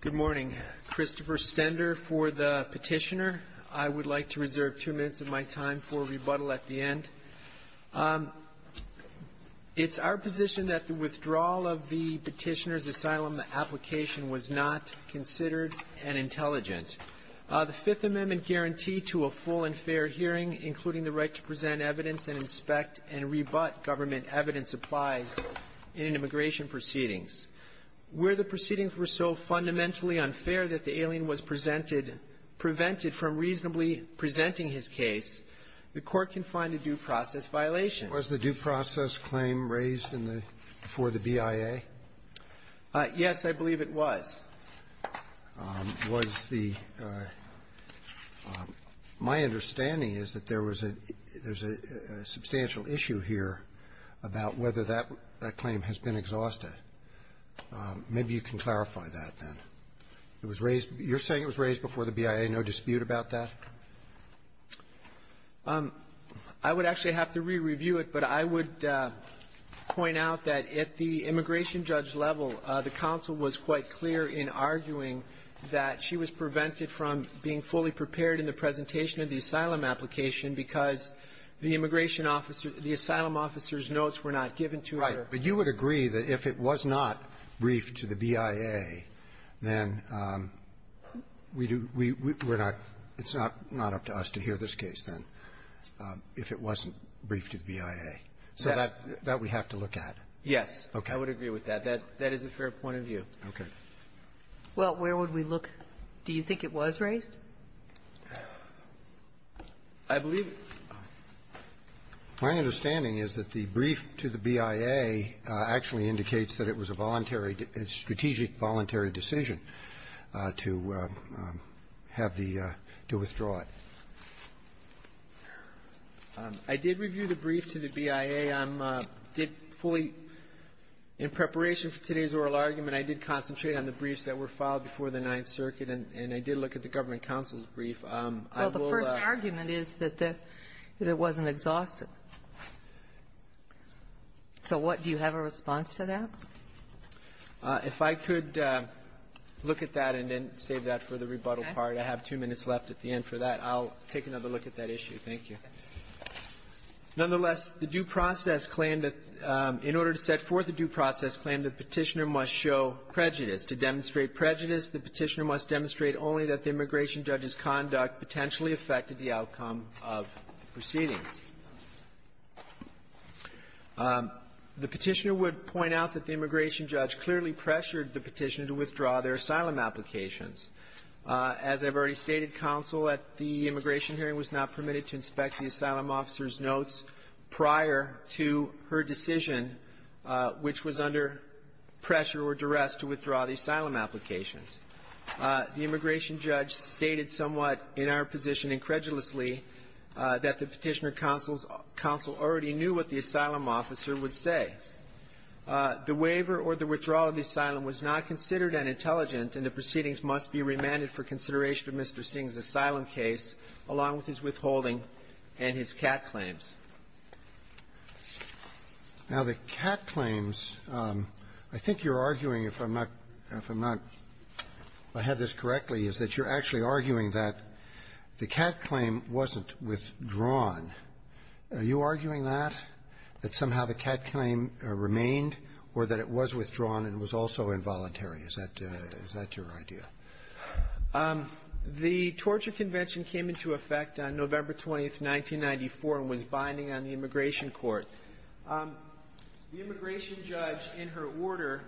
Good morning. Christopher Stender for the petitioner. I would like to reserve two minutes of my time for rebuttal at the end. It's our position that the withdrawal of the petitioner's asylum application was not considered an intelligent. The Fifth Amendment guarantee to a full and fair hearing, including the right to present evidence and inspect and rebut government evidence, applies in immigration proceedings. Where the proceedings were so fundamentally unfair that the alien was presented – prevented from reasonably presenting his case, the Court can find a due process violation. Was the due process claim raised in the – before the BIA? Yes, I believe it was. Was the – my understanding is that there was a – there's a substantial issue here about whether that claim has been exhausted. Maybe you can clarify that, then. It was raised – you're saying it was raised before the BIA. No dispute about that? I would actually have to re-review it, but I would point out that at the immigration judge level, the counsel was quite clear in arguing that she was prevented from being fully prepared in the presentation of the asylum application because the immigration officer – the asylum officer's notes were not given to her. Right. But you would agree that if it was not briefed to the BIA, then we do – we – we – we're not – it's not up to us to hear this case, then, if it wasn't briefed to the BIA. So that – that we have to look at. Yes. Okay. I would agree with that. That – that is a fair point of view. Okay. Well, where would we look? Do you think it was raised? I believe it was. My understanding is that the brief to the BIA actually indicates that it was a voluntary – a strategic voluntary decision to have the – to withdraw it. I did review the brief to the BIA. I'm fully in preparation for today's oral argument. I did concentrate on the briefs that were filed before the Ninth Circuit, and I did look at the government counsel's brief. I will – Well, the first argument is that the – that it wasn't exhausted. So what – do you have a response to that? If I could look at that and then save that for the rebuttal part. Okay. I have two minutes left at the end for that. I'll take another look at that issue. Thank you. Nonetheless, the due process claim that – in order to set forth a due process claim, the Petitioner must show prejudice. To demonstrate prejudice, the Petitioner must demonstrate only that the immigration judge's conduct potentially affected the outcome of proceedings. The Petitioner would point out that the immigration judge clearly pressured the Petitioner to withdraw their asylum applications. As I've already stated, counsel at the immigration hearing was not permitted to inspect the asylum officer's notes prior to her decision, which was under pressure or duress to withdraw the asylum applications. The immigration judge stated somewhat in our position incredulously that the Petitioner counsel already knew what the asylum officer would say. The waiver or the withdrawal of the asylum was not considered unintelligent, and the proceedings must be remanded for consideration of Mr. Singh's asylum case, along with his withholding and his cat claims. Roberts. Now, the cat claims, I think you're arguing, if I'm not – if I'm not – if I have this correctly, is that you're actually arguing that the cat claim wasn't withdrawn. Are you arguing that, that somehow the cat claim remained, or that it was withdrawn and was also involuntary? Is that – is that your idea? The torture convention came into effect on November 20th, 1994, and was binding on the immigration court. The immigration judge, in her order,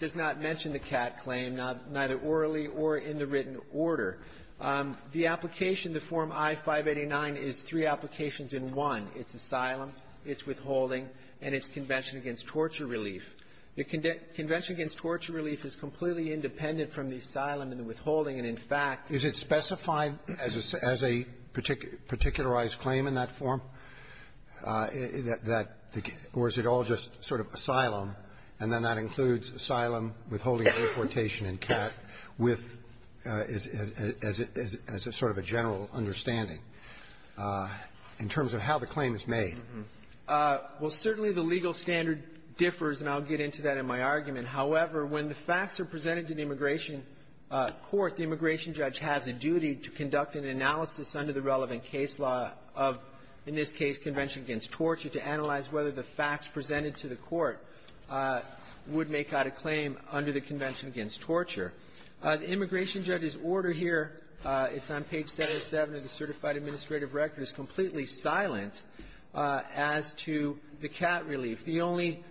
does not mention the cat claim, neither orally or in the written order. The application, the Form I-589, is three applications in one. It's asylum, it's withholding, and it's convention against torture relief. The convention against torture relief is completely independent from the asylum and the withholding, and, in fact – Is it specified as a – as a particularized claim in that form? That – or is it all just sort of asylum, and then that includes asylum, withholding, and importation in cat with – as a sort of a general understanding in terms of how the claim is made? Well, certainly the legal standard differs, and I'll get into that in my argument. However, when the facts are presented to the immigration court, the immigration judge has a duty to conduct an analysis under the relevant case law of, in this case, convention against torture, to analyze whether the facts presented to the court would make out a claim under the convention against torture. The immigration judge's order here, it's on page 707 of the Certified Administrative Record, is completely silent as to the cat relief. The only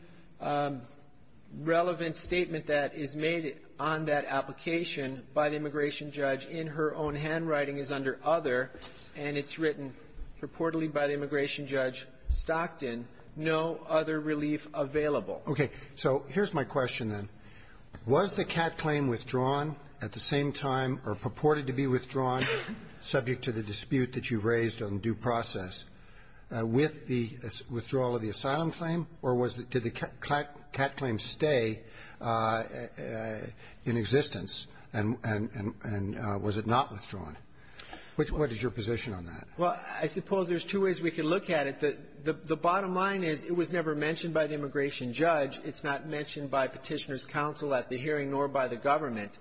relevant statement that is made on that application by the immigration judge in her own handwriting is under other, and it's written purportedly by the immigration judge Stockton, no other relief available. Okay. So here's my question, then. Was the cat claim withdrawn at the same time or purported to be withdrawn subject to the dispute that you've raised on due process with the withdrawal of the asylum claim, or was it – did the cat claim stay in existence, and was it not withdrawn? What is your position on that? Well, I suppose there's two ways we could look at it. The bottom line is it was never mentioned by the immigration judge. It's not mentioned by Petitioner's counsel at the hearing nor by the government.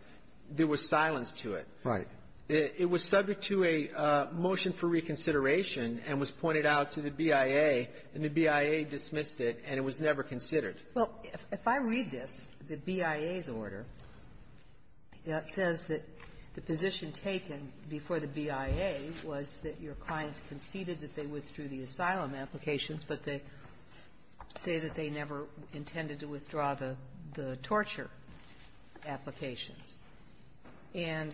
There was silence to it. Right. It was subject to a motion for reconsideration and was pointed out to the BIA, and the BIA dismissed it, and it was never considered. Well, if I read this, the BIA's order, it says that the position taken before the BIA was that your clients conceded that they withdrew the asylum applications, but they say that they never intended to withdraw the torture applications. And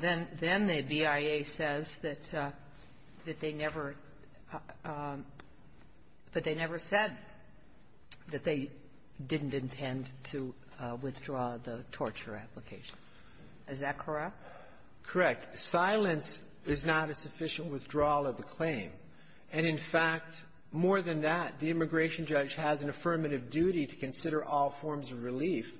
then the BIA says that they never – that they never said that they didn't intend to withdraw the torture application. Is that correct? Correct. Silence is not a sufficient withdrawal of the claim. And, in fact, more than that, the immigration judge has an affirmative duty to consider all forms of relief.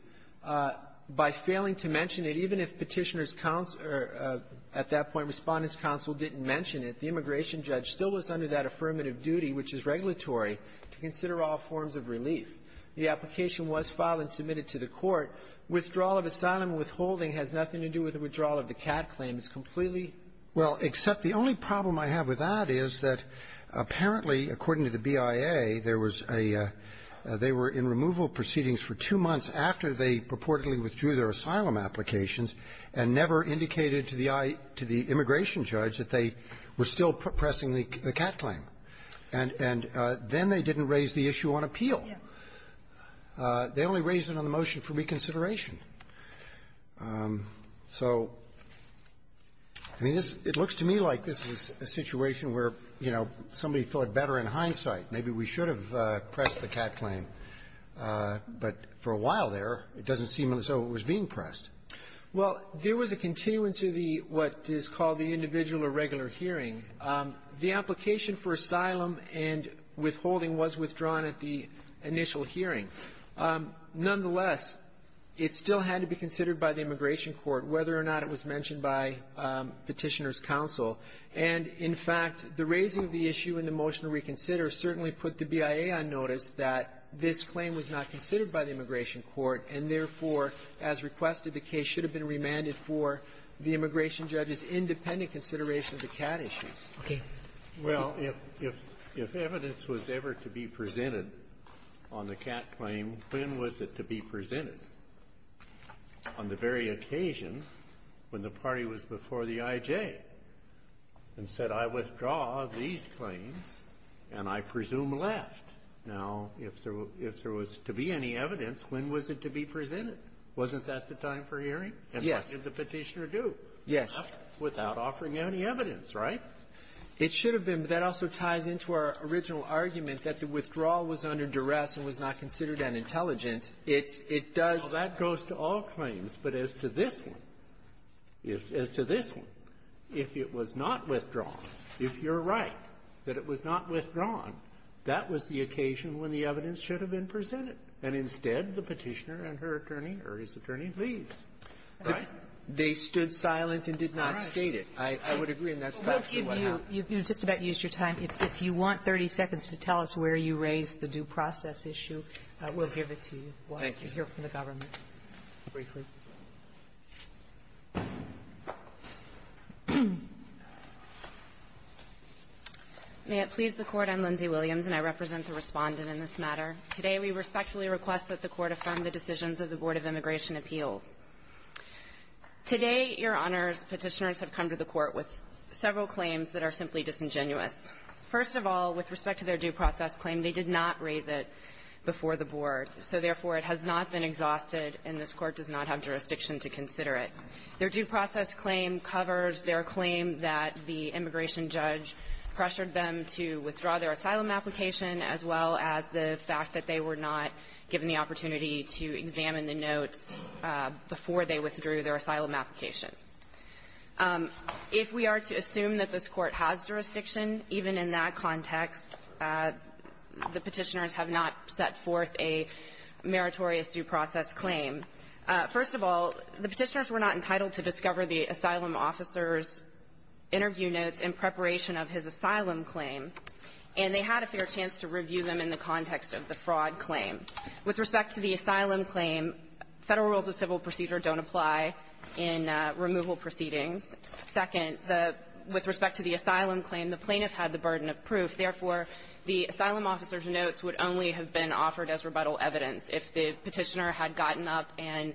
By failing to mention it, even if Petitioner's counsel or, at that point, Respondent's counsel didn't mention it, the immigration judge still was under that affirmative duty, which is regulatory, to consider all forms of relief. The application was filed and submitted to the Court. Withdrawal of asylum withholding has nothing to do with the withdrawal of the CAT claim. It's completely – Well, except the only problem I have with that is that, apparently, according to the BIA, there was a – they were in removal proceedings for two months after they purportedly withdrew their asylum applications and never indicated to the I – to the immigration judge that they were still pressing the CAT claim. And – and then they didn't raise the issue on appeal. Yeah. They only raised it on the motion for reconsideration. So, I mean, this – it looks to me like this is a situation where, you know, somebody thought better in hindsight, maybe we should have pressed the CAT claim. But for a while there, it doesn't seem as though it was being pressed. Well, there was a continuance of the – what is called the individual or regular hearing. The application for asylum and withholding was withdrawn at the initial hearing. Nonetheless, it still had to be considered by the immigration court whether or not it was mentioned by Petitioner's counsel. And, in fact, the raising of the issue in the motion to reconsider certainly put the BIA on notice that this claim was not considered by the immigration court, and therefore, as requested, the case should have been remanded for the immigration judge's independent consideration of the CAT issue. Okay. Well, if – if evidence was ever to be presented on the CAT claim, when was it to be presented? Wasn't that the time for hearing? Yes. And what did the Petitioner do? Yes. Without offering any evidence, right? It should have been. But that also ties into our original argument that the withdrawal was under duress and was not considered unintelligent. It's – it does – Well, that goes to all claims. But as to this one, if – as to this one, if it was not withdrawn, if you're right that it was not withdrawn, that was the occasion when the evidence should have been presented, and instead, the Petitioner and her attorney or his attorney leave. Right? They stood silent and did not state it. I would agree, and that's factually what happened. Well, we'll give you – you've just about used your time. If you want 30 seconds to tell us where you raised the due process issue, we'll give it to you. Thank you. I'd like to hear from the government briefly. May it please the Court. I'm Lindsay Williams, and I represent the Respondent in this matter. Today, we respectfully request that the Court affirm the decisions of the Board of Immigration Appeals. Today, Your Honors, Petitioners have come to the Court with several claims that are simply disingenuous. First of all, with respect to their due process claim, they did not raise it before the Board. So, therefore, it has not been exhausted, and this Court does not have jurisdiction to consider it. Their due process claim covers their claim that the immigration judge pressured them to withdraw their asylum application, as well as the fact that they were not given the opportunity to examine the notes before they withdrew their asylum application. If we are to assume that this Court has jurisdiction, even in that context, the Petitioners have not set forth a meritorious due process claim. First of all, the Petitioners were not entitled to discover the asylum officer's interview notes in preparation of his asylum claim, and they had a fair chance to review them in the context of the fraud claim. With respect to the asylum claim, Federal rules of civil procedure don't apply in removal proceedings. Second, the – with respect to the asylum claim, the plaintiff had the burden of proof. Therefore, the asylum officer's notes would only have been offered as rebuttal evidence if the Petitioner had gotten up and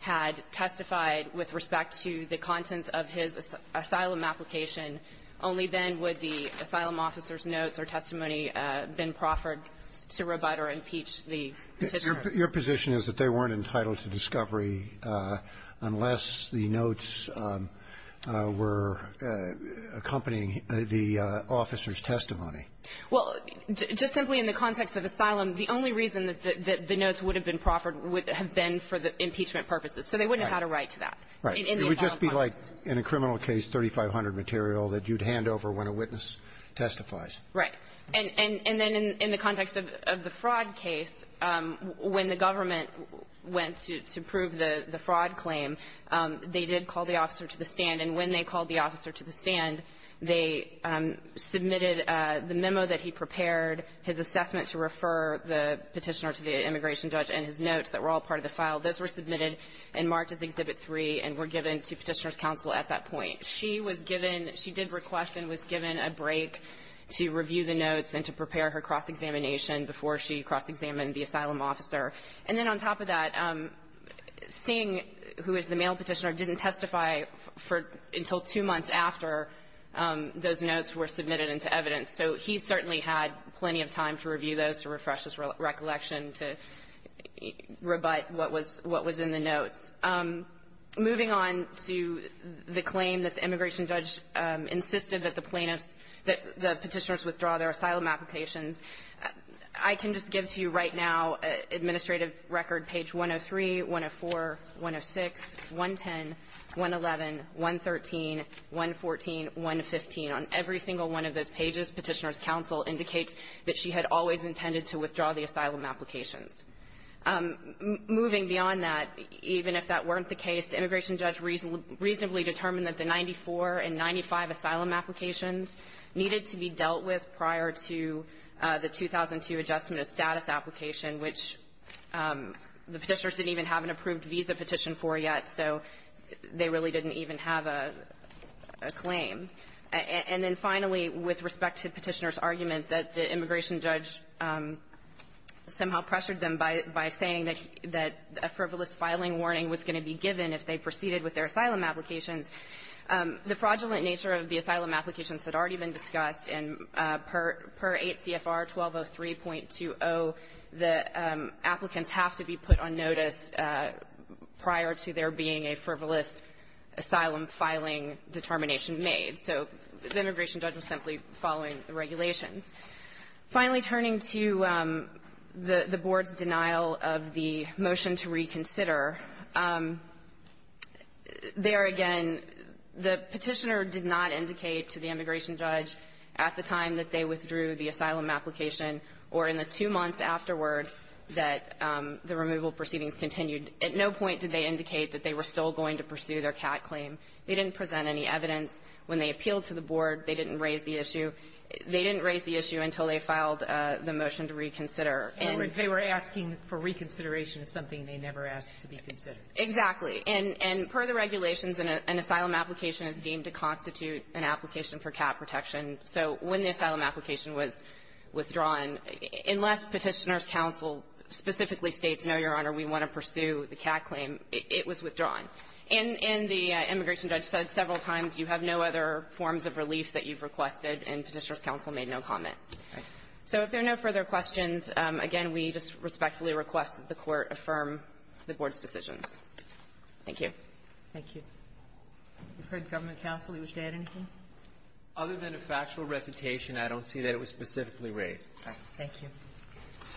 had testified with respect to the contents of his asylum application. Only then would the asylum officer's notes or testimony have been proffered to rebut or impeach the Petitioner. Your position is that they weren't entitled to discovery unless the notes were accompanying the officer's testimony. Well, just simply in the context of asylum, the only reason that the notes would have been proffered would have been for the impeachment purposes. So they wouldn't have had a right to that. Right. It would just be like in a criminal case, 3,500 material that you'd hand over when a witness testifies. Right. And then in the context of the fraud case, when the government went to prove the fraud claim, they did call the officer to the stand. They submitted the memo that he prepared, his assessment to refer the Petitioner to the immigration judge, and his notes that were all part of the file. Those were submitted and marked as Exhibit 3 and were given to Petitioner's counsel at that point. She was given – she did request and was given a break to review the notes and to prepare her cross-examination before she cross-examined the asylum officer. And then on top of that, Singh, who is the male Petitioner, didn't testify for – until two months after those notes were submitted into evidence. So he certainly had plenty of time to review those, to refresh his recollection, to rebut what was – what was in the notes. Moving on to the claim that the immigration judge insisted that the plaintiffs – that the Petitioners withdraw their asylum applications, I can just give to you right now, Administrative Record, page 103, 104, 106, 110, 111, 113, 114, 115. On every single one of those pages, Petitioner's counsel indicates that she had always intended to withdraw the asylum applications. Moving beyond that, even if that weren't the case, the immigration judge reasonably determined that the 94 and 95 asylum applications needed to be dealt with prior to the 2002 adjustment of status application which the Petitioners didn't even have an approved visa petition for yet, so they really didn't even have a claim. And then finally, with respect to Petitioner's argument that the immigration judge somehow pressured them by saying that a frivolous filing warning was going to be given if they proceeded with their asylum applications, the fraudulent nature of the asylum applications had already been discussed. And per 8 CFR 1203.20, the applicants have to be put on notice prior to there being a frivolous asylum filing determination made. So the immigration judge was simply following the regulations. Finally, turning to the Board's denial of the motion to reconsider, there again, the Petitioner did not indicate to the immigration judge at the time that they withdrew the asylum application or in the two months afterwards that the removal proceedings continued. At no point did they indicate that they were still going to pursue their CAT claim. They didn't present any evidence. When they appealed to the Board, they didn't raise the issue until they filed the motion to reconsider. And they were asking for reconsideration of something they never asked to be considered. Exactly. And per the regulations, an asylum application is deemed to constitute an application for CAT protection. So when the asylum application was withdrawn, unless Petitioner's counsel specifically states, no, Your Honor, we want to pursue the CAT claim, it was withdrawn. And the immigration judge said several times, you have no other forms of relief that you've requested, and Petitioner's counsel made no comment. All right. So if there are no further questions, again, we just respectfully request that the Court affirm the Board's decisions. Thank you. Thank you. We've heard the government counsel. You wish to add anything? Other than a factual recitation, I don't see that it was specifically raised. All right. Thank you.